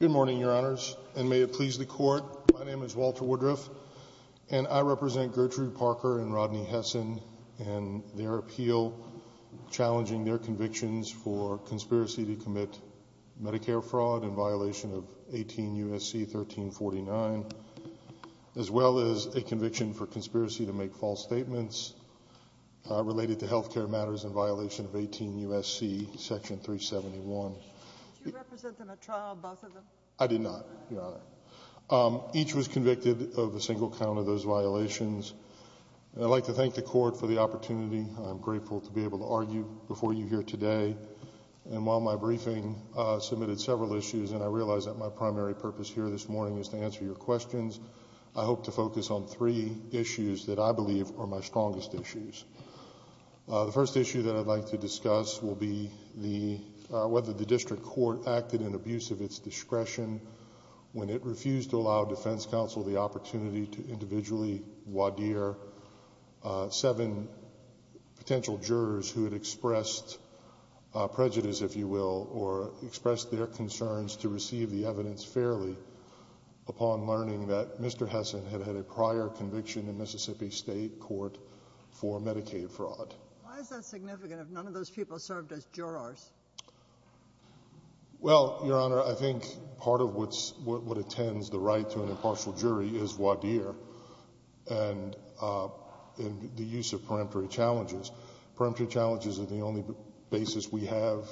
Good morning, Your Honors, and may it please the Court, my name is Walter Woodruff, and I represent Gertrude Parker and Rodney Hesson and their appeal challenging their convictions for conspiracy to commit Medicare fraud in violation of 18 U.S.C. 1349, as well as a conviction for conspiracy to make false statements related to healthcare matters in violation of 18 U.S.C. section 371. Did you represent them at trial, both of them? I did not, Your Honor. Each was convicted of a single count of those violations, and I'd like to thank the Court for the opportunity. I'm grateful to be able to argue before you here today, and while my briefing submitted several issues, and I realize that my primary purpose here this morning is to answer your three issues that I believe are my strongest issues. The first issue that I'd like to discuss will be whether the district court acted in abuse of its discretion when it refused to allow defense counsel the opportunity to individually wadir seven potential jurors who had expressed prejudice, if you will, or expressed their concerns to receive the evidence fairly upon learning that Mr. Hesson had had a prior conviction in Mississippi State Court for Medicaid fraud. Why is that significant if none of those people served as jurors? Well, Your Honor, I think part of what attends the right to an impartial jury is wadir and the use of peremptory challenges. Peremptory challenges are the only basis we have,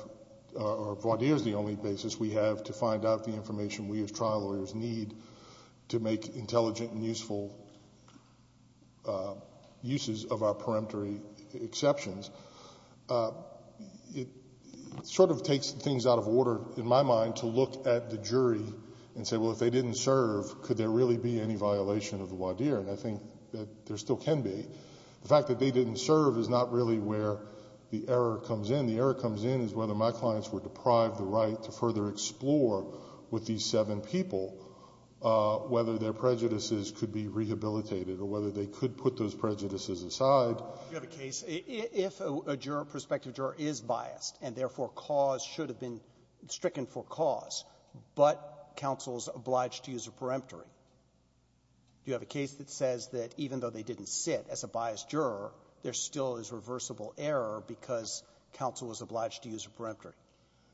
or wadir is the only basis we have to find out the information we as trial lawyers need to make intelligent and useful uses of our peremptory exceptions. It sort of takes things out of order, in my mind, to look at the jury and say, well, if they didn't serve, could there really be any violation of the wadir, and I think that there still can be. The fact that they didn't serve is not really where the error comes in. I think where the error comes in is whether my clients were deprived the right to further explore with these seven people whether their prejudices could be rehabilitated or whether they could put those prejudices aside. Roberts. You have a case, if a juror, prospective juror, is biased, and therefore cause should have been stricken for cause, but counsel is obliged to use a peremptory, do you have a case that says that even though they didn't sit as a biased juror, there still is reversible error because counsel was obliged to use a peremptory?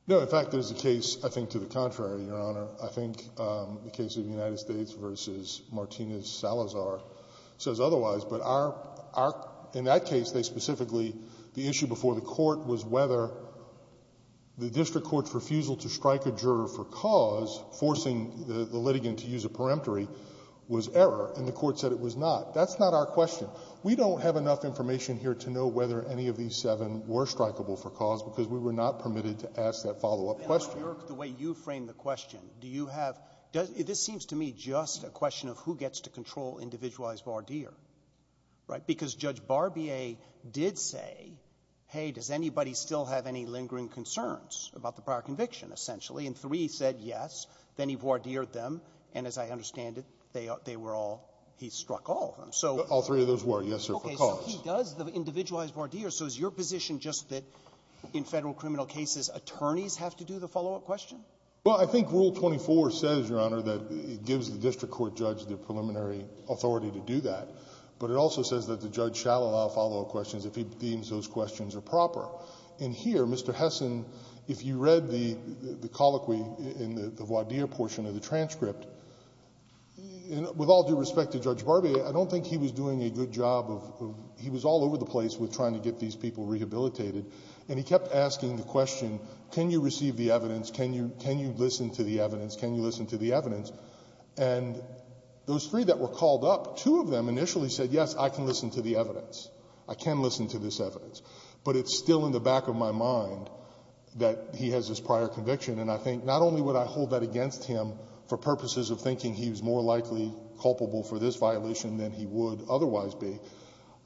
No. In fact, there's a case, I think, to the contrary, Your Honor. I think the case of the United States v. Martinez-Salazar says otherwise. But in that case, they specifically, the issue before the court was whether the district court's refusal to strike a juror for cause, forcing the litigant to use a peremptory, was error, and the court said it was not. That's not our question. We don't have enough information here to know whether any of these seven were strikable for cause because we were not permitted to ask that follow-up question. Roberts. The way you framed the question, do you have — this seems to me just a question of who gets to control individualized voir dire, right? Because Judge Barbier did say, hey, does anybody still have any lingering concerns about the prior conviction, essentially, and three said yes, then he voir dired them, and as I understand it, they were all — he struck all of them. So — All three of those were, yes, sir, for cause. Okay. So he does the individualized voir dire. So is your position just that in Federal criminal cases, attorneys have to do the follow-up question? Well, I think Rule 24 says, Your Honor, that it gives the district court judge the preliminary authority to do that. But it also says that the judge shall allow follow-up questions if he deems those questions are proper. And here, Mr. Hessen, if you read the colloquy in the voir dire portion of the transcript, with all due respect to Judge Barbier, I don't think he was doing a good job of — he was all over the place with trying to get these people rehabilitated. And he kept asking the question, can you receive the evidence, can you listen to the evidence, can you listen to the evidence? And those three that were called up, two of them initially said, yes, I can listen to the evidence. I can listen to this evidence. But it's still in the back of my mind that he has this prior conviction. And I think not only would I hold that against him for purposes of thinking he was more likely culpable for this violation than he would otherwise be,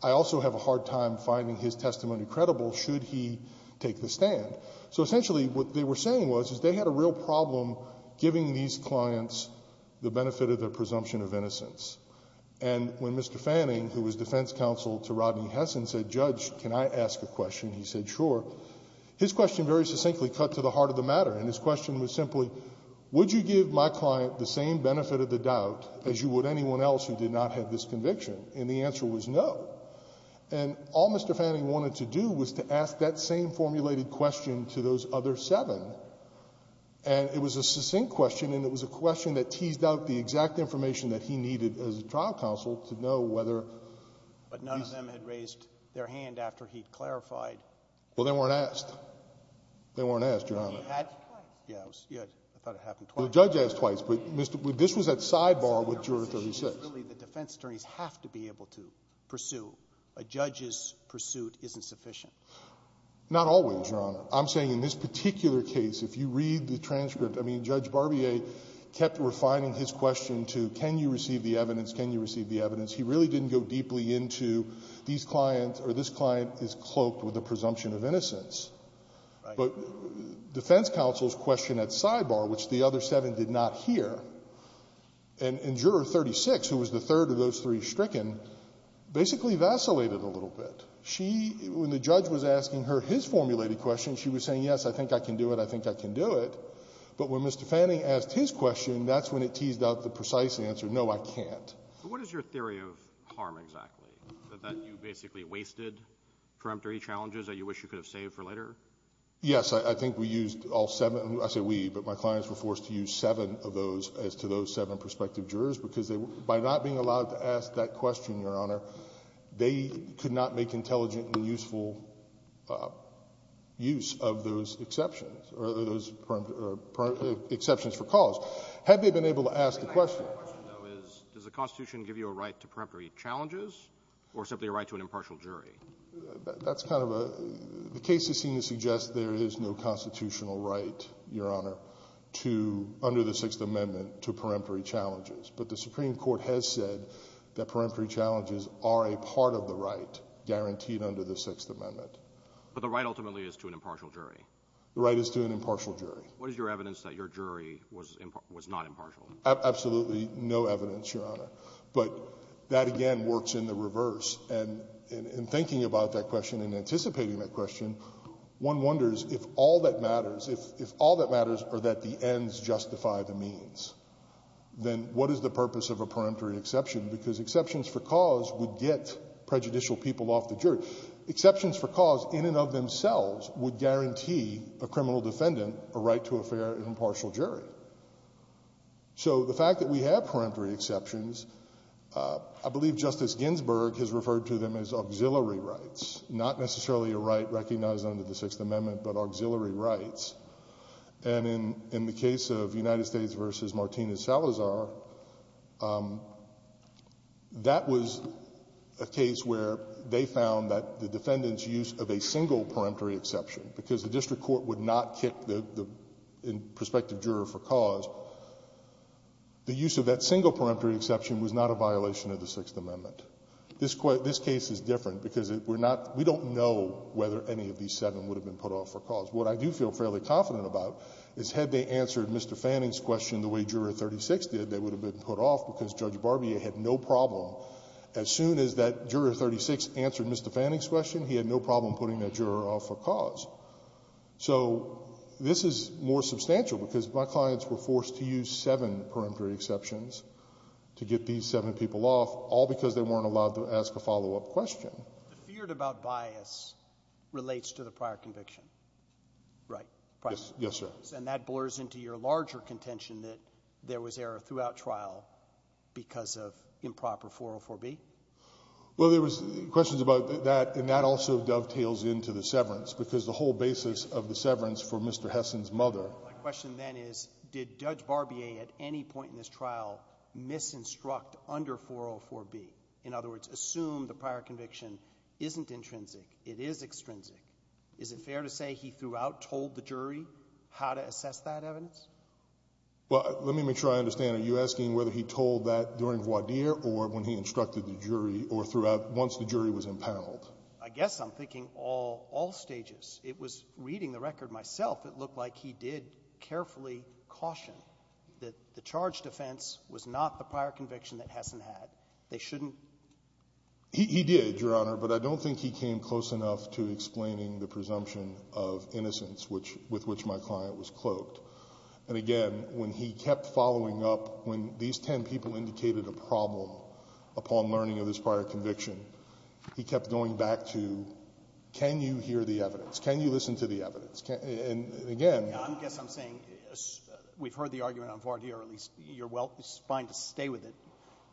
I also have a hard time finding his testimony credible should he take the stand. So essentially what they were saying was, is they had a real problem giving these clients the benefit of their presumption of innocence. And when Mr. Fanning, who was defense counsel to Rodney Hessen, said, Judge, can I ask a question, he said, sure. His question very succinctly cut to the heart of the matter. And his question was simply, would you give my client the same benefit of the doubt as you would anyone else who did not have this conviction? And the answer was no. And all Mr. Fanning wanted to do was to ask that same formulated question to those other seven. And it was a succinct question, and it was a question that teased out the exact information that he needed as a trial counsel to know whether — But none of them had raised their hand after he clarified. Well, they weren't asked. They weren't asked, Your Honor. But he had twice. Yeah, I thought it happened twice. Well, the judge asked twice, but Mr. — this was at sidebar with Juror 36. The defense attorneys have to be able to pursue. A judge's pursuit isn't sufficient. Not always, Your Honor. I'm saying in this particular case, if you read the transcript, I mean, Judge Barbier kept refining his question to can you receive the evidence, can you receive the evidence. He really didn't go deeply into these clients or this client is cloaked with a presumption of innocence. But defense counsel's question at sidebar, which the other seven did not hear, and Juror 36, who was the third of those three stricken, basically vacillated a little bit. She — when the judge was asking her his formulated question, she was saying, yes, I think I can do it, I think I can do it. But when Mr. Fanning asked his question, that's when it teased out the precise answer, no, I can't. But what is your theory of harm exactly, that you basically wasted peremptory challenges that you wish you could have saved for later? Yes. I think we used all seven — I say we, but my clients were forced to use seven of those as to those seven prospective jurors because they — by not being allowed to ask that question, Your Honor, they could not make intelligent and useful use of those exceptions or those exceptions for cause had they been able to ask the question. My question, though, is, does the Constitution give you a right to peremptory challenges or simply a right to an impartial jury? That's kind of a — the cases seem to suggest there is no constitutional right, Your Honor, to — under the Sixth Amendment to peremptory challenges. But the Supreme Court has said that peremptory challenges are a part of the right guaranteed under the Sixth Amendment. But the right ultimately is to an impartial jury. The right is to an impartial jury. What is your evidence that your jury was not impartial? Absolutely no evidence, Your Honor. But that, again, works in the reverse. And in thinking about that question and anticipating that question, one wonders if all that matters — if all that matters are that the ends justify the means, then what is the purpose of a peremptory exception? Because exceptions for cause would get prejudicial people off the jury. Exceptions for cause in and of themselves would guarantee a criminal defendant a right to a fair and impartial jury. So the fact that we have peremptory exceptions, I believe Justice Ginsburg has referred to them as auxiliary rights, not necessarily a right recognized under the Sixth Amendment, but auxiliary rights. And in the case of United States v. Martinez-Salazar, that was a case where they found that the defendant's use of a single peremptory exception — because the district court would not kick the prospective juror for cause — the use of that single peremptory exception was not a violation of the Sixth Amendment. This case is different because we're not — we don't know whether any of these seven would have been put off for cause. What I do feel fairly confident about is had they answered Mr. Fanning's question the way Juror 36 did, they would have been put off because Judge Barbier had no problem. As soon as that Juror 36 answered Mr. Fanning's question, he had no problem putting that juror off for cause. So this is more substantial because my clients were forced to use seven peremptory exceptions to get these seven people off, all because they weren't allowed to ask a follow-up question. The fear about bias relates to the prior conviction, right? Yes, yes, sir. And that blurs into your larger contention that there was error throughout trial because of improper 404B? Well, there was questions about that, and that also dovetails into the severance because the whole basis of the severance for Mr. Hessen's mother — My question then is, did Judge Barbier at any point in this trial misinstruct under 404B? In other words, assume the prior conviction isn't intrinsic, it is extrinsic. Is it fair to say he throughout told the jury how to assess that evidence? Well, let me make sure I understand. Are you asking whether he told that during voir dire or when he instructed the jury or throughout — once the jury was impaled? I guess I'm thinking all stages. It was reading the record myself. It looked like he did carefully caution that the charge defense was not the prior conviction that Hessen had. They shouldn't — He did, Your Honor. But I don't think he came close enough to explaining the presumption of innocence which — with which my client was cloaked. And again, when he kept following up, when these 10 people indicated a problem upon learning of this prior conviction, he kept going back to, can you hear the evidence? Can you listen to the evidence? And again — I guess I'm saying we've heard the argument on voir dire, at least. You're well — it's fine to stay with it.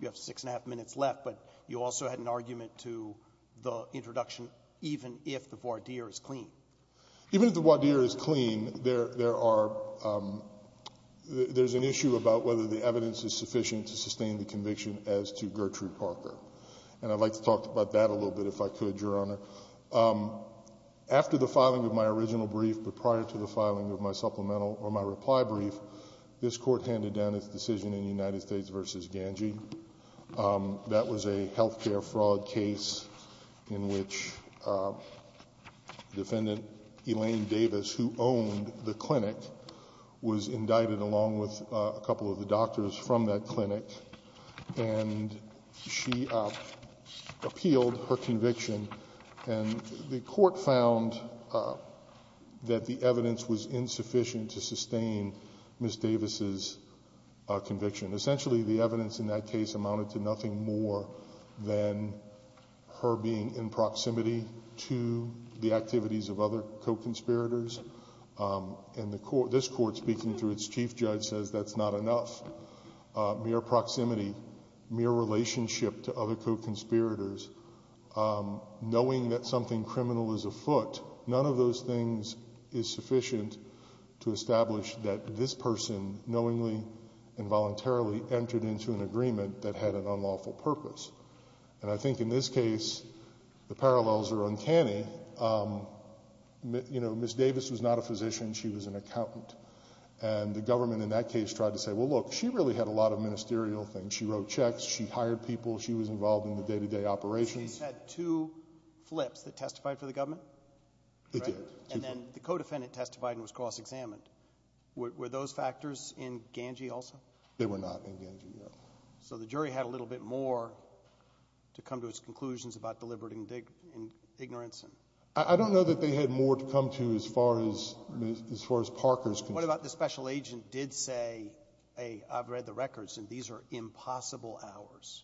You have six and a half minutes left. But you also had an argument to the introduction even if the voir dire is clean. Even if the voir dire is clean, there are — there's an issue about whether the evidence is sufficient to sustain the conviction as to Gertrude Parker. And I'd like to talk about that a little bit if I could, Your Honor. After the filing of my original brief, but prior to the filing of my supplemental or my reply brief, this Court handed down its decision in United States v. Ganji. That was a health care fraud case in which defendant Elaine Davis, who owned the clinic, was indicted along with a couple of the doctors from that clinic. And she appealed her conviction. And the Court found that the evidence was insufficient to sustain Ms. Davis's conviction. Essentially, the evidence in that case amounted to nothing more than her being in proximity to the activities of other co-conspirators. And this Court, speaking through its chief judge, says that's not enough. Mere proximity, mere relationship to other co-conspirators, knowing that something criminal is afoot, none of those things is sufficient to establish that this person knowingly and voluntarily entered into an agreement that had an unlawful purpose. And I think in this case, the parallels are uncanny. You know, Ms. Davis was not a physician. She was an accountant. And the government in that case tried to say, well, look, she really had a lot of ministerial things. She wrote checks. She hired people. She was involved in the day-to-day operations. She said two flips that testified for the government? It did. And then the co-defendant testified and was cross-examined. Were those factors in Ganji also? They were not in Ganji, Your Honor. So the jury had a little bit more to come to its conclusions about deliberate ignorance. And I don't know that they had more to come to as far as Parker's concern. What about the special agent did say, hey, I've read the records, and these are impossible hours.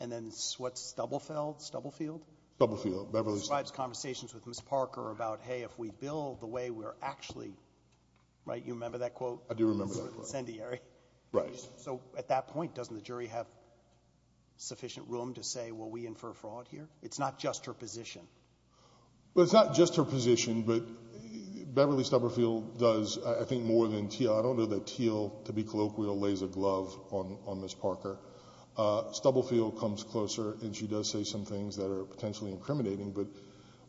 And then what's Stubblefield? Stubblefield. Stubblefield, Beverly. Describes conversations with Ms. Parker about, hey, if we build the way we're actually, right, you remember that quote? I do remember that quote. Incendiary. Right. So at that point, doesn't the jury have sufficient room to say, well, we infer fraud here? It's not just her position. Well, it's not just her position, but Beverly Stubblefield does, I think, more than Teal. I don't know that Teal, to be colloquial, lays a glove on Ms. Parker. Stubblefield comes closer, and she does say some things that are potentially incriminating. But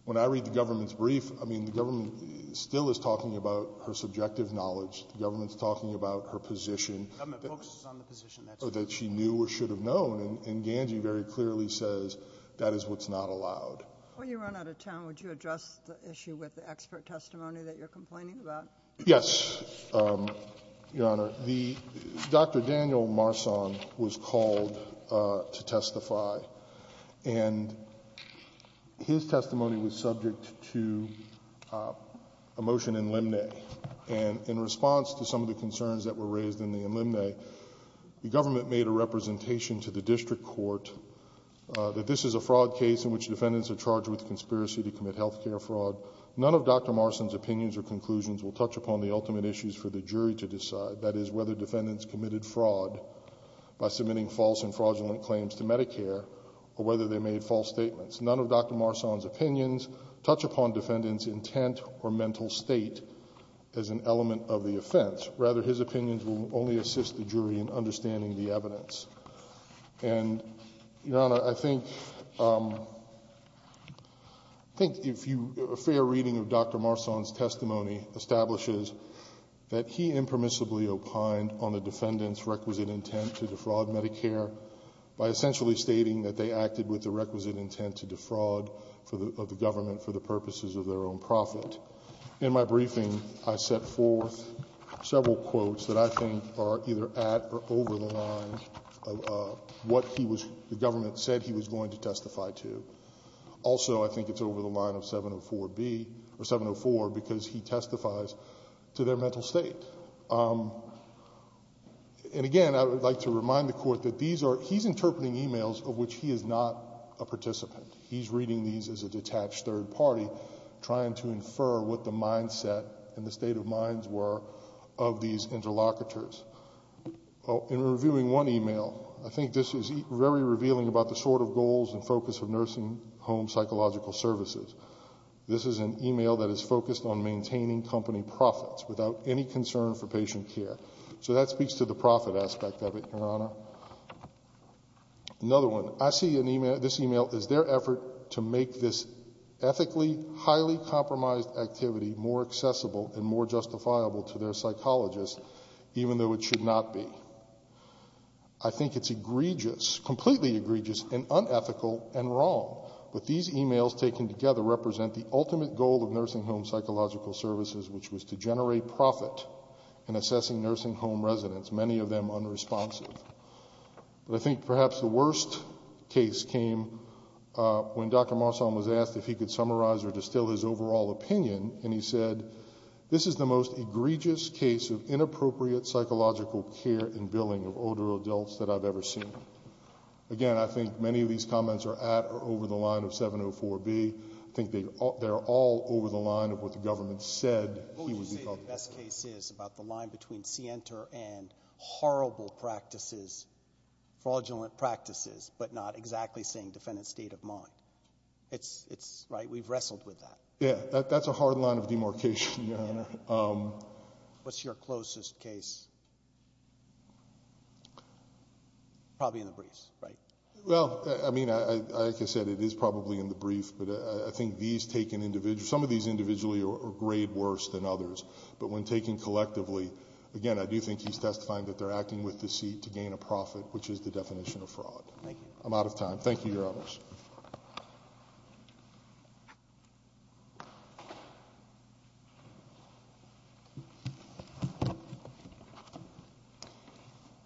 when I read the government's brief, I mean, the government still is talking about her subjective knowledge. The government's talking about her position. The government focuses on the position that she knew or should have known. And Ganji very clearly says that is what's not allowed. When you run out of time, would you address the issue with the expert testimony that you're complaining about? Yes, Your Honor. Dr. Daniel Marsan was called to testify, and his testimony was subject to a motion And in response to some of the concerns that were raised in the enlemne, the government made a representation to the district court that this is a fraud case in which defendants are charged with conspiracy to commit health care fraud. None of Dr. Marsan's opinions or conclusions will touch upon the ultimate issues for the jury to decide. That is, whether defendants committed fraud by submitting false and fraudulent claims to Medicare, or whether they made false statements. None of Dr. Marsan's opinions touch upon defendants' intent or mental state as an element of the offense. Rather, his opinions will only assist the jury in understanding the evidence. And, Your Honor, I think a fair reading of Dr. Marsan's testimony establishes that he impermissibly opined on the defendants' requisite intent to defraud Medicare by essentially stating that they acted with the requisite intent to defraud of the government for the purposes of their own profit. In my briefing, I set forth several quotes that I think are either at or over the line of what he was the government said he was going to testify to. Also, I think it's over the line of 704B, or 704, because he testifies to their mental state. And, again, I would like to remind the Court that these are — he's interpreting emails of which he is not a participant. He's reading these as a detached third party trying to infer what the mindset and the state of minds were of these interlocutors. In reviewing one email, I think this is very revealing about the sort of goals and focus of nursing home psychological services. This is an email that is focused on maintaining company profits without any concern for patient care. So that speaks to the profit aspect of it, Your Honor. Another one. I see this email as their effort to make this ethically highly compromised activity more accessible and more justifiable to their psychologists, even though it should not be. I think it's egregious, completely egregious, and unethical and wrong. But these emails taken together represent the ultimate goal of nursing home psychological services, which was to generate profit in assessing nursing home residents, many of them unresponsive. But I think perhaps the worst case came when Dr. Marsan was asked if he could summarize or distill his overall opinion, and he said, this is the most egregious case of inappropriate psychological care and billing of older adults that I've ever seen. Again, I think many of these comments are at or over the line of 704B. I think they're all over the line of what the government said he would be called the best case is about the line between scienter and horrible practices, fraudulent practices, but not exactly saying defendant's state of mind. It's right. We've wrestled with that. Yeah, that's a hard line of demarcation, Your Honor. What's your closest case? Probably in the briefs, right? Well, I mean, like I said, it is probably in the brief, but I think these taken individual, some of these individually are grade worse than others, but when taken collectively, again, I do think he's testifying that they're acting with deceit to gain a profit, which is the definition of fraud. Thank you. I'm out of time. Thank you, Your Honors.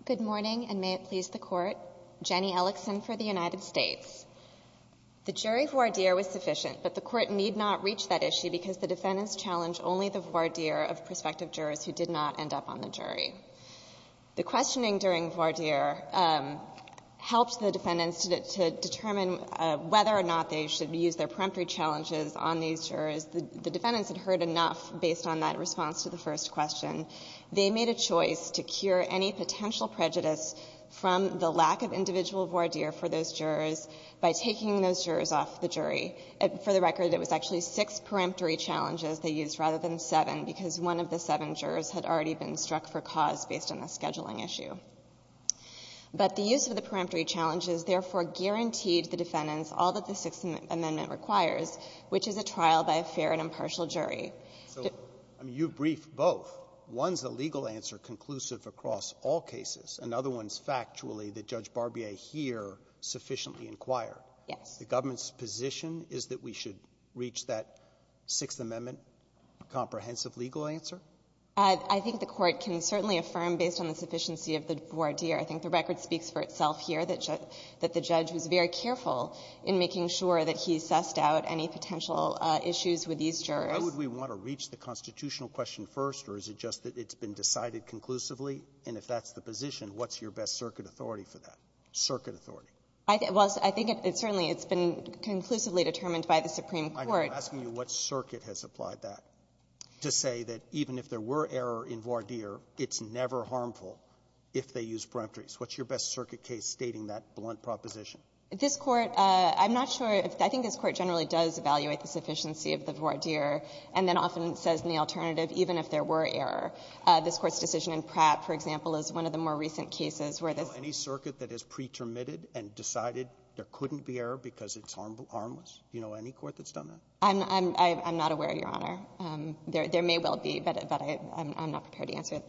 Good morning, and may it please the Court. Jenny Ellickson for the United States. The jury voir dire was sufficient, but the Court need not reach that issue because the defendants challenged only the voir dire of prospective jurors who did not end up on the jury. The questioning during voir dire helped the defendants to determine whether or not they should use their peremptory challenges on these jurors. The defendants had heard enough based on that response to the first question. They made a choice to cure any potential prejudice from the lack of individual voir dire for those jurors by taking those jurors off the jury. For the record, it was actually six peremptory challenges they used rather than seven because one of the seven jurors had already been struck for cause based on the scheduling issue. But the use of the peremptory challenges, therefore, guaranteed the defendants all that the Sixth Amendment requires, which is a trial by a fair and impartial jury. So you briefed both. One's a legal answer conclusive across all cases. Another one's factually that Judge Barbier here sufficiently inquired. Yes. The government's position is that we should reach that Sixth Amendment comprehensive legal answer? I think the Court can certainly affirm based on the sufficiency of the voir dire. I think the record speaks for itself here that the judge was very careful in making sure that he sussed out any potential issues with these jurors. Why would we want to reach the constitutional question first? Or is it just that it's been decided conclusively? And if that's the position, what's your best circuit authority for that, circuit authority? I think it's certainly been conclusively determined by the Supreme Court. I know. I'm asking you what circuit has applied that to say that even if there were error in voir dire, it's never harmful if they use peremptories. What's your best circuit case stating that blunt proposition? This Court, I'm not sure. I think this Court generally does evaluate the sufficiency of the voir dire, and then often says in the alternative, even if there were error. This Court's decision in Pratt, for example, is one of the more recent cases where this ---- Do you know any circuit that has pretermitted and decided there couldn't be error because it's harmless? Do you know any Court that's done that? I'm not aware, Your Honor. There may well be, but I'm not prepared to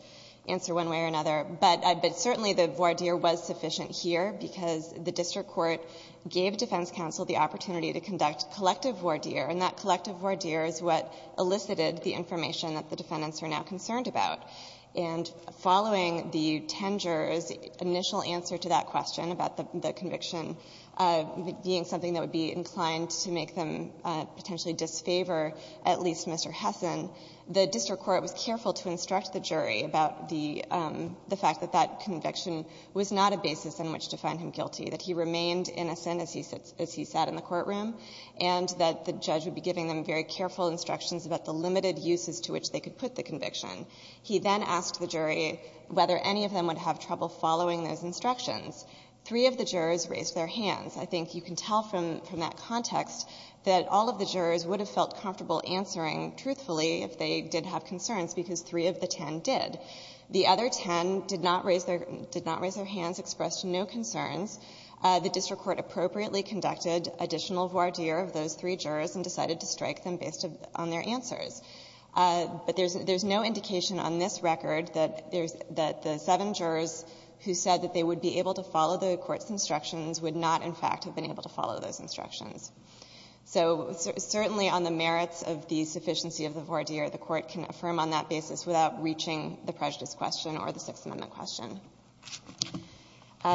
answer one way or another. But certainly the voir dire was sufficient here because the district court gave defense counsel the opportunity to conduct collective voir dire, and that collective voir dire is what elicited the information that the defendants are now concerned about. And following the ten jurors' initial answer to that question about the conviction being something that would be inclined to make them potentially disfavor at least Mr. Hessen, the district court was careful to instruct the jury about the fact that that conviction was not a basis on which to find him guilty, that he remained innocent as he sat in the courtroom, and that the judge would be giving them very careful instructions about the limited uses to which they could put the conviction. He then asked the jury whether any of them would have trouble following those instructions. Three of the jurors raised their hands. I think you can tell from that context that all of the jurors would have felt comfortable answering truthfully if they did have concerns because three of the ten did. The other ten did not raise their hands, expressed no concerns. The district court appropriately conducted additional voir dire of those three jurors and decided to strike them based on their answers. But there's no indication on this record that the seven jurors who said that they would be able to follow the court's instructions would not, in fact, have been able to follow those instructions. So certainly on the merits of the sufficiency of the voir dire, the court can affirm on that basis without reaching the prejudice question or the Sixth Amendment question.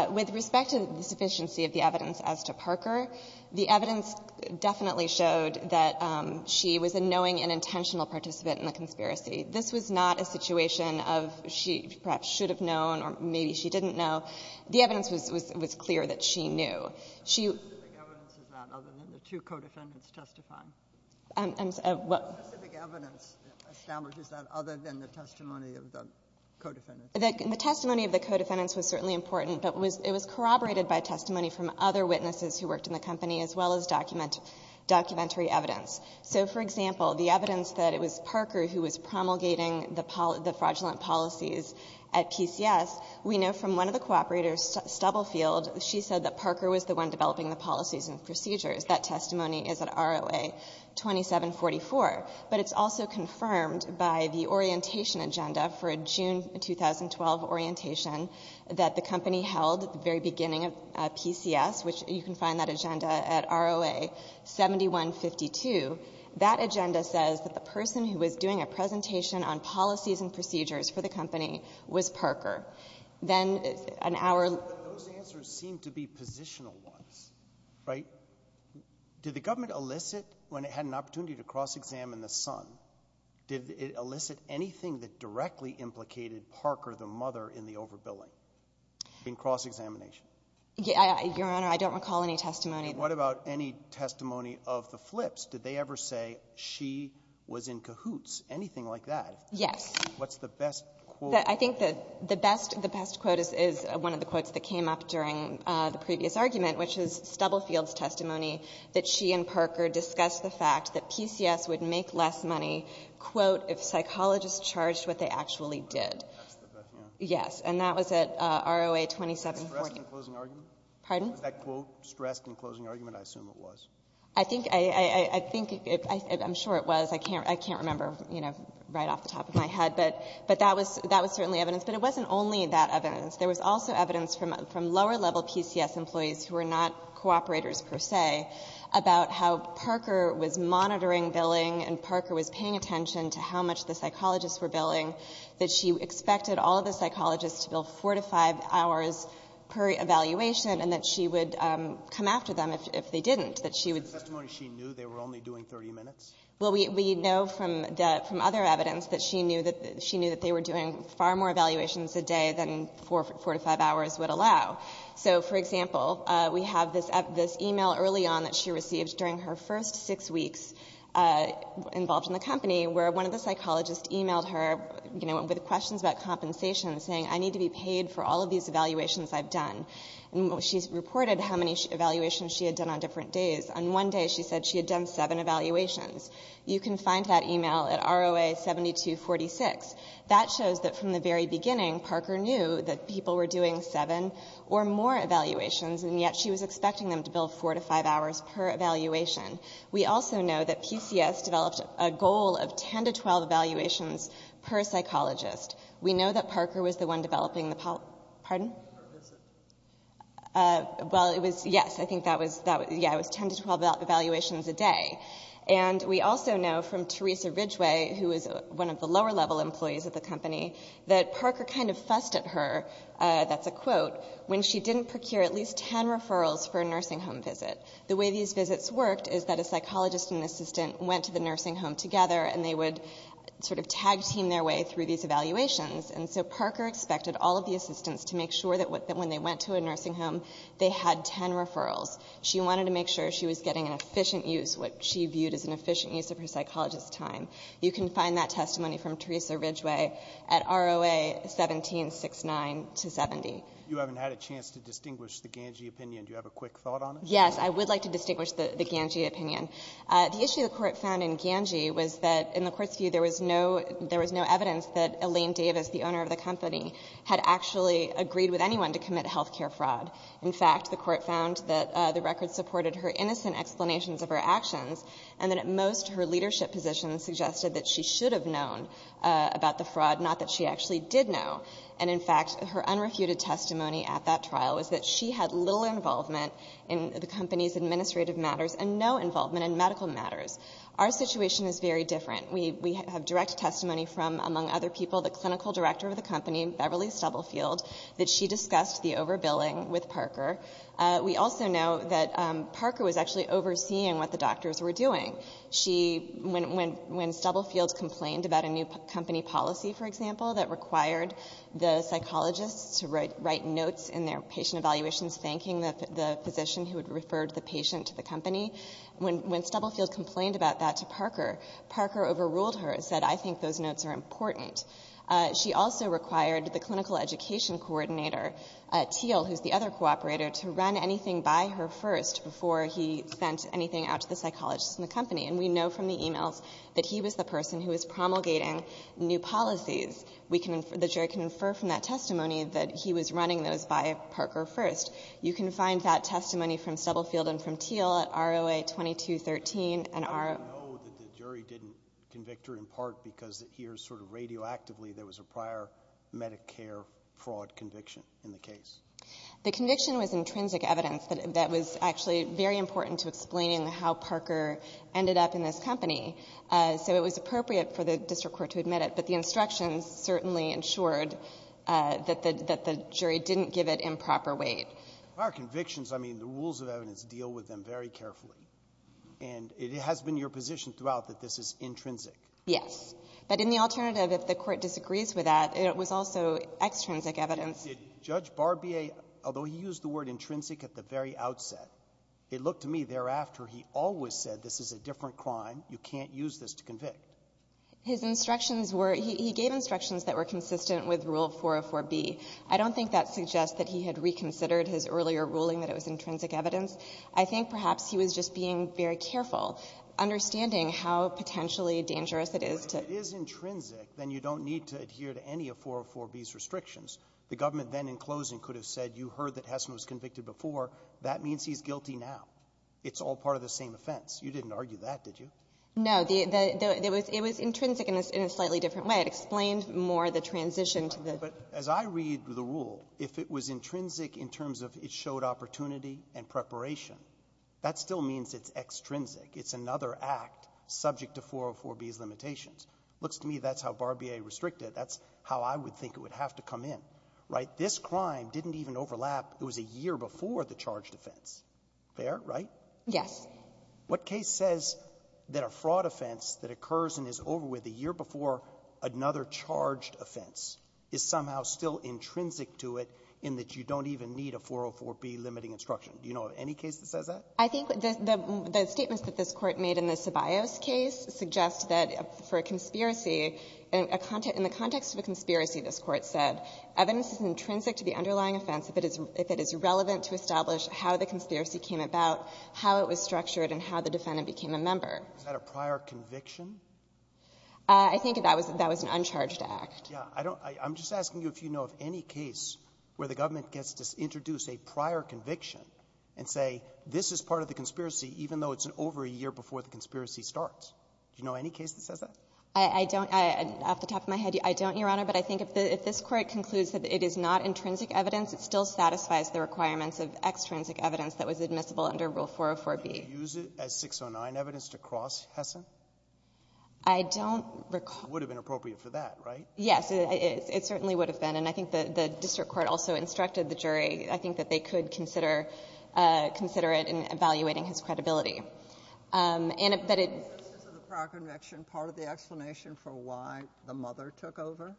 With respect to the sufficiency of the evidence as to Parker, the evidence definitely showed that she was a knowing and intentional participant in the conspiracy. This was not a situation of she perhaps should have known or maybe she didn't know. The evidence was clear that she knew. She was not aware of that other than the two co-defendants testifying. And what — The specific evidence establishes that other than the testimony of the co-defendants? The testimony of the co-defendants was certainly important, but it was corroborated by testimony from other witnesses who worked in the company as well as documentary evidence. So, for example, the evidence that it was Parker who was promulgating the fraudulent policies at PCS, we know from one of the cooperators, Stubblefield, she said that Parker was the one developing the policies and procedures. That testimony is at ROA-2744. But it's also confirmed by the orientation agenda for a June 2012 orientation that the company held at the very beginning of PCS, which you can find that agenda at ROA-7152. That agenda says that the person who was doing a presentation on policies and procedures for the company was Parker. Then an hour — Right. Did the government elicit, when it had an opportunity to cross-examine the son, did it elicit anything that directly implicated Parker, the mother, in the overbilling, in cross-examination? Your Honor, I don't recall any testimony. And what about any testimony of the flips? Did they ever say she was in cahoots, anything like that? Yes. What's the best quote? I think the best — the best quote is one of the quotes that came up during the previous argument, which is Stubblefield's testimony, that she and Parker discussed the fact that PCS would make less money, quote, if psychologists charged what they actually did. Oh, that's the best, yeah. Yes. And that was at ROA-2714. Was that a stressed and closing argument? Pardon? Was that quote stressed and closing argument? I assume it was. I think — I think — I'm sure it was. I can't — I can't remember, you know, right off the top of my head. But that was — that was certainly evidence. But it wasn't only that evidence. There was also evidence from lower-level PCS employees who were not cooperators per se about how Parker was monitoring billing and Parker was paying attention to how much the psychologists were billing, that she expected all of the psychologists to bill 4 to 5 hours per evaluation, and that she would come after them if they didn't, that she would — Was it testimony she knew they were only doing 30 minutes? Well, we know from other evidence that she knew that — she knew that they were doing far more evaluations a day than 4 to 5 hours would allow. So for example, we have this — this email early on that she received during her first six weeks involved in the company where one of the psychologists emailed her, you know, with questions about compensation, saying, I need to be paid for all of these evaluations I've done. And she's reported how many evaluations she had done on different days. On one day, she said she had done seven evaluations. You can find that email at ROA-7246. That shows that from the very beginning, Parker knew that people were doing seven or more evaluations, and yet she was expecting them to bill 4 to 5 hours per evaluation. We also know that PCS developed a goal of 10 to 12 evaluations per psychologist. We know that Parker was the one developing the — pardon? Or is it? Well, it was — yes, I think that was — yeah, it was 10 to 12 evaluations a day. And we also know from Teresa Ridgeway, who is one of the lower-level employees of the company, that Parker kind of fussed at her — that's a quote — when she didn't procure at least 10 referrals for a nursing home visit. The way these visits worked is that a psychologist and an assistant went to the nursing home together, and they would sort of tag-team their way through these evaluations. And so Parker expected all of the assistants to make sure that when they went to a nursing home, they had 10 referrals. She wanted to make sure she was getting an efficient use, what she viewed as an efficient use of her psychologist's time. You can find that testimony from Teresa Ridgeway at ROA 1769 to 70. You haven't had a chance to distinguish the Ganji opinion. Do you have a quick thought on it? Yes. I would like to distinguish the Ganji opinion. The issue the Court found in Ganji was that in the Court's view, there was no — there was no evidence that Elaine Davis, the owner of the company, had actually agreed with anyone to commit health care fraud. In fact, the Court found that the record supported her innocent explanations of her actions, and that at most, her leadership position suggested that she should have known about the fraud, not that she actually did know. And in fact, her unrefuted testimony at that trial was that she had little involvement in the company's administrative matters and no involvement in medical matters. Our situation is very different. We have direct testimony from, among other people, the clinical director of the company, Beverly Stubblefield, that she discussed the overbilling with Parker. We also know that Parker was actually overseeing what the doctors were doing. She — when Stubblefield complained about a new company policy, for example, that required the psychologists to write notes in their patient evaluations thanking the physician who had referred the patient to the company, when Stubblefield complained about that to Parker, Parker overruled her and said, I think those notes are important. She also required the clinical education coordinator, Teal, who's the other cooperator, to run anything by her first before he sent anything out to the psychologists in the company. And we know from the e-mails that he was the person who was promulgating new policies. We can — the jury can infer from that testimony that he was running those by Parker first. You can find that testimony from Stubblefield and from Teal at ROA-2213 and ROA — I know that the jury didn't convict her in part because here sort of radioactively there was a prior Medicare fraud conviction in the case. The conviction was intrinsic evidence that was actually very important to explaining how Parker ended up in this company. So it was appropriate for the district court to admit it. But the instructions certainly ensured that the jury didn't give it improper weight. Prior convictions, I mean, the rules of evidence deal with them very carefully. And it has been your position throughout that this is intrinsic. Yes. But in the alternative, if the Court disagrees with that, it was also extrinsic evidence. Did Judge Barbier, although he used the word intrinsic at the very outset, it looked to me thereafter he always said this is a different crime, you can't use this to convict. His instructions were — he gave instructions that were consistent with Rule 404b. I don't think that suggests that he had reconsidered his earlier ruling that it was intrinsic evidence. I think perhaps he was just being very careful, understanding how potentially dangerous it is to — But if it is intrinsic, then you don't need to adhere to any of 404b's restrictions. The government then, in closing, could have said you heard that Hessen was convicted before. That means he's guilty now. It's all part of the same offense. You didn't argue that, did you? No. It was intrinsic in a slightly different way. It explained more the transition to the — But as I read the rule, if it was intrinsic in terms of it showed opportunity and preparation, that still means it's extrinsic. It's another act subject to 404b's limitations. Looks to me that's how Barbier restricted it. That's how I would think it would have to come in, right? This crime didn't even overlap. It was a year before the charged offense. Fair, right? Yes. What case says that a fraud offense that occurs and is over with a year before another charged offense is somehow still intrinsic to it in that you don't even need a 404b limiting instruction? Do you know of any case that says that? I think the statements that this Court made in the Ceballos case suggest that for a conspiracy, in the context of a conspiracy, this Court said, evidence is intrinsic to the underlying offense if it is relevant to establish how the conspiracy came about, how it was structured, and how the defendant became a member. Is that a prior conviction? I think that was an uncharged act. I'm just asking you if you know of any case where the government gets to introduce a prior conviction and say this is part of the conspiracy even though it's over a year before the conspiracy starts. Do you know any case that says that? I don't. Off the top of my head, I don't, Your Honor. But I think if this Court concludes that it is not intrinsic evidence, it still satisfies the requirements of extrinsic evidence that was admissible under Rule 404b. Can you use it as 609 evidence to cross Hessen? I don't recall. It would have been appropriate for that, right? Yes. It certainly would have been. And I think the district court also instructed the jury, I think, that they could consider it in evaluating his credibility. And that it — Is the prior conviction part of the explanation for why the mother took over?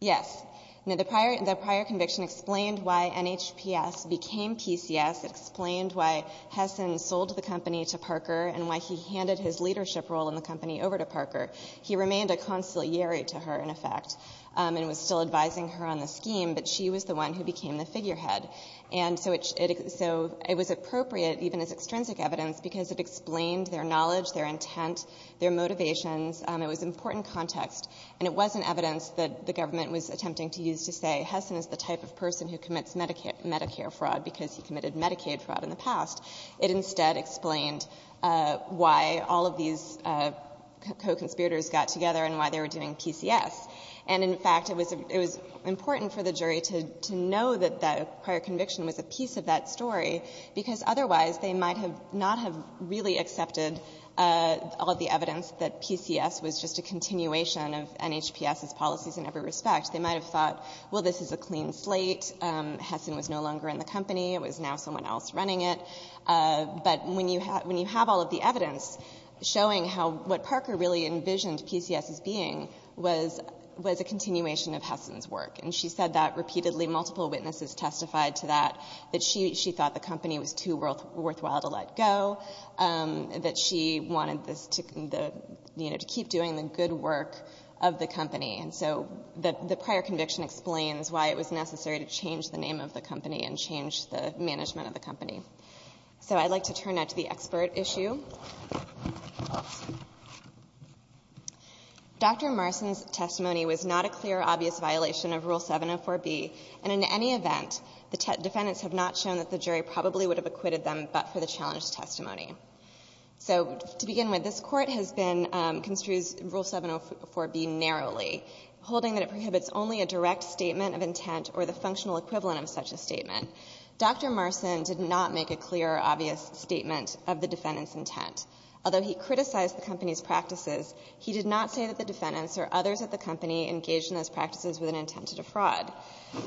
Yes. The prior conviction explained why NHPS became PCS. It explained why Hessen sold the company to Parker and why he handed his leadership role in the company over to Parker. He remained a conciliary to her, in effect, and was still advising her on the scheme, but she was the one who became the figurehead. And so it was appropriate, even as extrinsic evidence, because it explained their knowledge, their intent, their motivations. It was important context. And it wasn't evidence that the government was attempting to use to say, Hessen is the type of person who commits Medicare fraud because he committed Medicaid fraud in the past. It instead explained why all of these co-conspirators got together and why they were doing PCS. And, in fact, it was — it was important for the jury to know that that prior conviction was a piece of that story because otherwise they might have not have really accepted all of the evidence that PCS was just a continuation of NHPS's policies in every respect. They might have thought, well, this is a clean slate. Hessen was no longer in the company. It was now someone else running it. But when you have all of the evidence showing how — what Parker really envisioned PCS as being was a continuation of Hessen's work. And she said that repeatedly. Multiple witnesses testified to that, that she thought the company was too worthwhile to let go, that she wanted this to — you know, to keep doing the good work of the company. And so the prior conviction explains why it was necessary to change the name of the management of the company. So I'd like to turn now to the expert issue. Dr. Marson's testimony was not a clear, obvious violation of Rule 704B. And in any event, the defendants have not shown that the jury probably would have acquitted them but for the challenged testimony. So to begin with, this Court has been — construes Rule 704B narrowly, holding that it prohibits only a direct statement of intent or the functional equivalent of such a statement. Dr. Marson did not make a clear, obvious statement of the defendant's intent. Although he criticized the company's practices, he did not say that the defendants or others at the company engaged in those practices with an intent to defraud.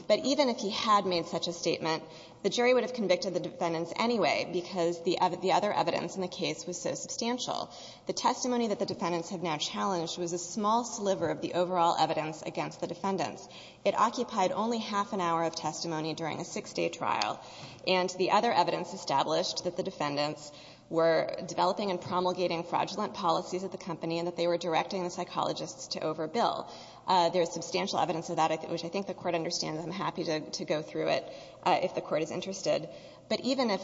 But even if he had made such a statement, the jury would have convicted the defendants anyway because the other evidence in the case was so substantial. The testimony that the defendants have now challenged was a small sliver of the overall evidence against the defendants. It occupied only half an hour of testimony during a six-day trial. And the other evidence established that the defendants were developing and promulgating fraudulent policies at the company and that they were directing the psychologists to overbill. There is substantial evidence of that, which I think the Court understands. I'm happy to go through it if the Court is interested. But even if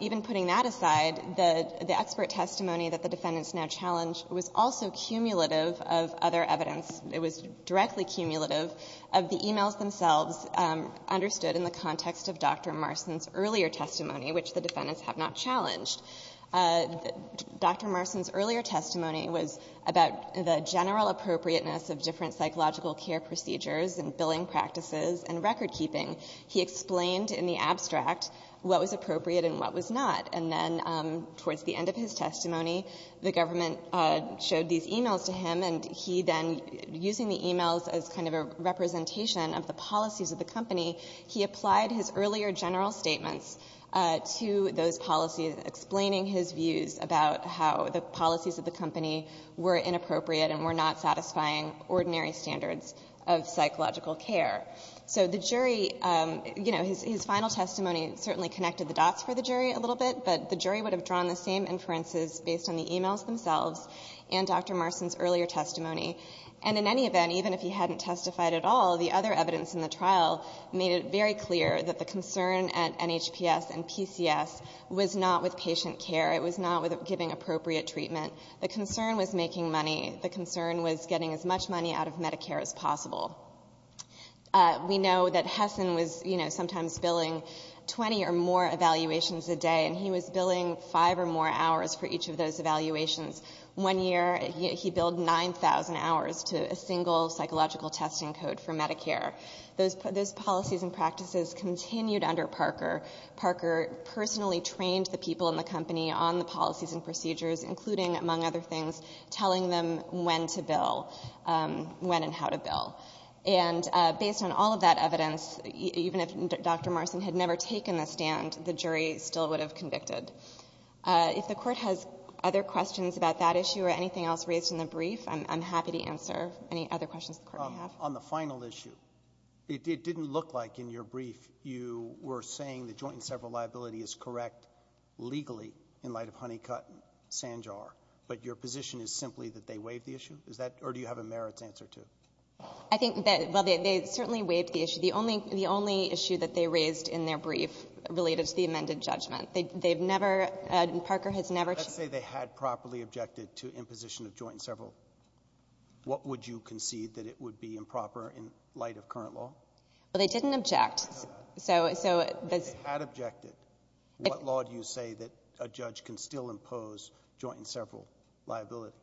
— even putting that aside, the expert testimony that the defendants now challenge was also cumulative of other evidence. It was directly cumulative of the e-mails themselves understood in the context of Dr. Marsden's earlier testimony, which the defendants have not challenged. Dr. Marsden's earlier testimony was about the general appropriateness of different psychological care procedures and billing practices and recordkeeping. He explained in the abstract what was appropriate and what was not. And then towards the end of his testimony, the government showed these e-mails to him, and he then, using the e-mails as kind of a representation of the policies of the company, he applied his earlier general statements to those policies, explaining his views about how the policies of the company were inappropriate and were not satisfying ordinary standards of psychological care. So the jury — you know, his final testimony certainly connected the dots for the jury a little bit, but the jury would have drawn the same inferences based on the e-mails themselves and Dr. Marsden's earlier testimony. And in any event, even if he hadn't testified at all, the other evidence in the trial made it very clear that the concern at NHPS and PCS was not with patient care. It was not with giving appropriate treatment. The concern was making money. The concern was getting as much money out of Medicare as possible. We know that Hessen was, you know, sometimes billing 20 or more evaluations a day, and he was billing five or more hours for each of those evaluations. One year, he billed 9,000 hours to a single psychological testing code for Medicare. Those policies and practices continued under Parker. Parker personally trained the people in the company on the policies and procedures, including, among other things, telling them when to bill, when and how to bill. And based on all of that evidence, even if Dr. Marsden had never taken the stand, the jury still would have convicted. If the Court has other questions about that issue or anything else raised in the brief, I'm happy to answer any other questions the Court may have. On the final issue, it didn't look like in your brief you were saying the joint and several liability is correct legally in light of Honeycutt and Sanjar, but your position is simply that they waived the issue? Or do you have a merits answer to it? I think that they certainly waived the issue. The only issue that they raised in their brief related to the amended judgment. They've never — Parker has never — Let's say they had properly objected to imposition of joint and several. What would you concede that it would be improper in light of current law? Well, they didn't object. So — If they had objected, what law do you say that a judge can still impose joint and several liability?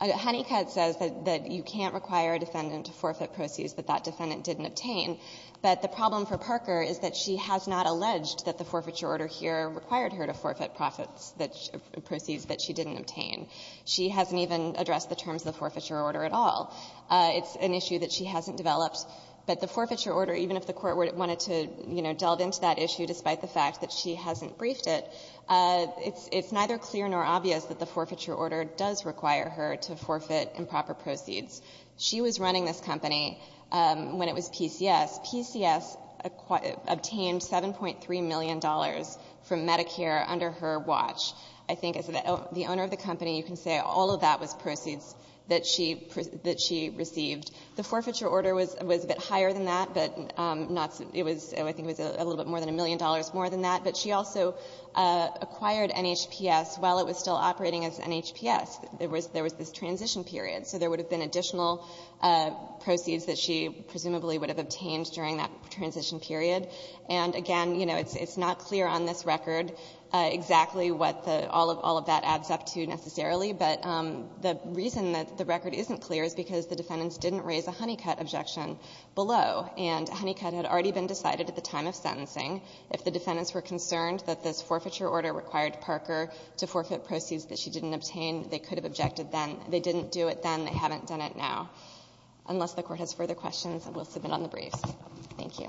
Honeycutt says that you can't require a defendant to forfeit proceeds that that defendant didn't obtain, but the problem for Parker is that she has not alleged that the forfeiture order here required her to forfeit profits that — proceeds that she didn't obtain. She hasn't even addressed the terms of the forfeiture order at all. It's an issue that she hasn't developed, but the forfeiture order, even if the Court wanted to, you know, delve into that issue despite the fact that she hasn't briefed it, it's neither clear nor obvious that the forfeiture order does require her to forfeit improper proceeds. She was running this company when it was PCS. PCS obtained $7.3 million from Medicare under her watch. I think as the owner of the company, you can say all of that was proceeds that she — that she received. The forfeiture order was a bit higher than that, but not — it was — I think it was a little bit more than a million dollars more than that. But she also acquired NHPS while it was still operating as NHPS. There was — there was this transition period. So there would have been additional proceeds that she presumably would have obtained during that transition period. And again, you know, it's not clear on this record exactly what the — all of that adds up to necessarily. But the reason that the record isn't clear is because the defendants didn't raise a Honeycutt objection below. And Honeycutt had already been decided at the time of sentencing. If the defendants were concerned that this forfeiture order required Parker to forfeit to it then, they haven't done it now. Unless the Court has further questions, I will submit on the briefs. Thank you.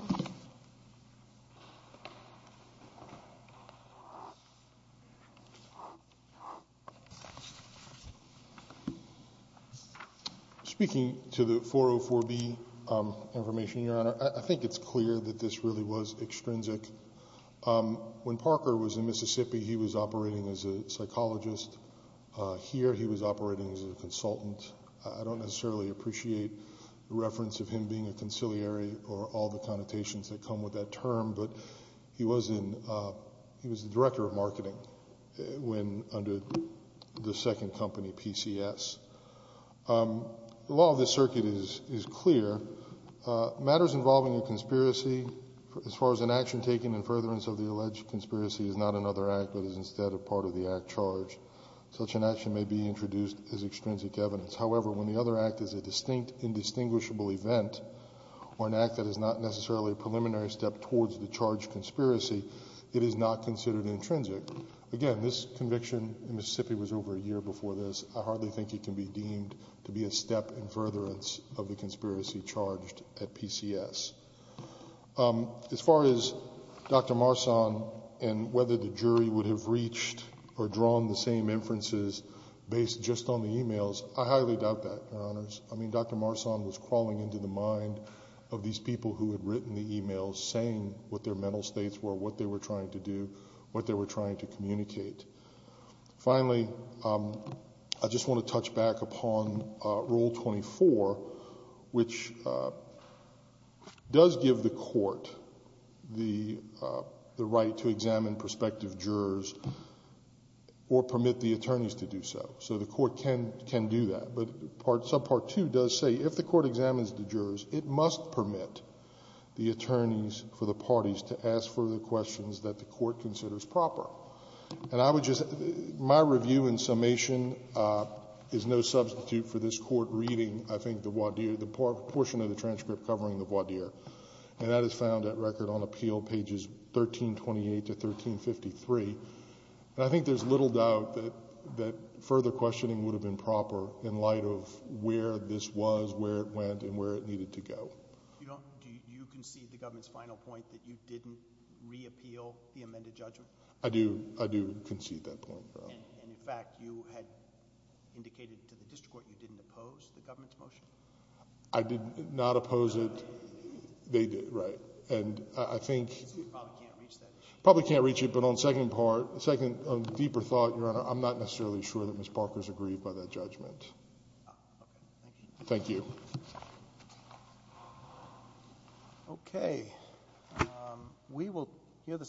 Speaking to the 404B information, Your Honor, I think it's clear that this really was extrinsic. When Parker was in Mississippi, he was operating as a psychologist. Here he was operating as a consultant. I don't necessarily appreciate the reference of him being a conciliary or all the connotations that come with that term. But he was in — he was the director of marketing when — under the second company, PCS. The law of this circuit is clear. Matters involving a conspiracy, as far as an action taken in furtherance of the such an action may be introduced as extrinsic evidence. However, when the other act is a distinct, indistinguishable event or an act that is not necessarily a preliminary step towards the charged conspiracy, it is not considered intrinsic. Again, this conviction in Mississippi was over a year before this. I hardly think it can be deemed to be a step in furtherance of the conspiracy charged at PCS. As far as Dr. Marsan and whether the jury would have reached or drawn the same inferences based just on the e-mails, I highly doubt that, Your Honors. I mean, Dr. Marsan was crawling into the mind of these people who had written the e-mails saying what their mental states were, what they were trying to do, what they were trying to communicate. Finally, I just want to touch back upon Rule 24, which does give the court the authority to examine the jurors or permit the attorneys to do so. So the court can do that. But subpart 2 does say if the court examines the jurors, it must permit the attorneys for the parties to ask further questions that the court considers proper. And I would just my review in summation is no substitute for this Court reading, I think, the voir dire, the portion of the transcript covering the voir dire. And that is found at record on appeal pages 1328 to 1353. And I think there's little doubt that further questioning would have been proper in light of where this was, where it went, and where it needed to go. Do you concede the government's final point that you didn't reappeal the amended judgment? I do concede that point. And, in fact, you had indicated to the district court you didn't oppose the government's motion? I did not oppose it. They did, right. And I think— You probably can't reach that. Probably can't reach it. But on the second part, on the deeper thought, Your Honor, I'm not necessarily sure that Ms. Parker's aggrieved by that judgment. Thank you. Thank you. Okay. We will hear the second part.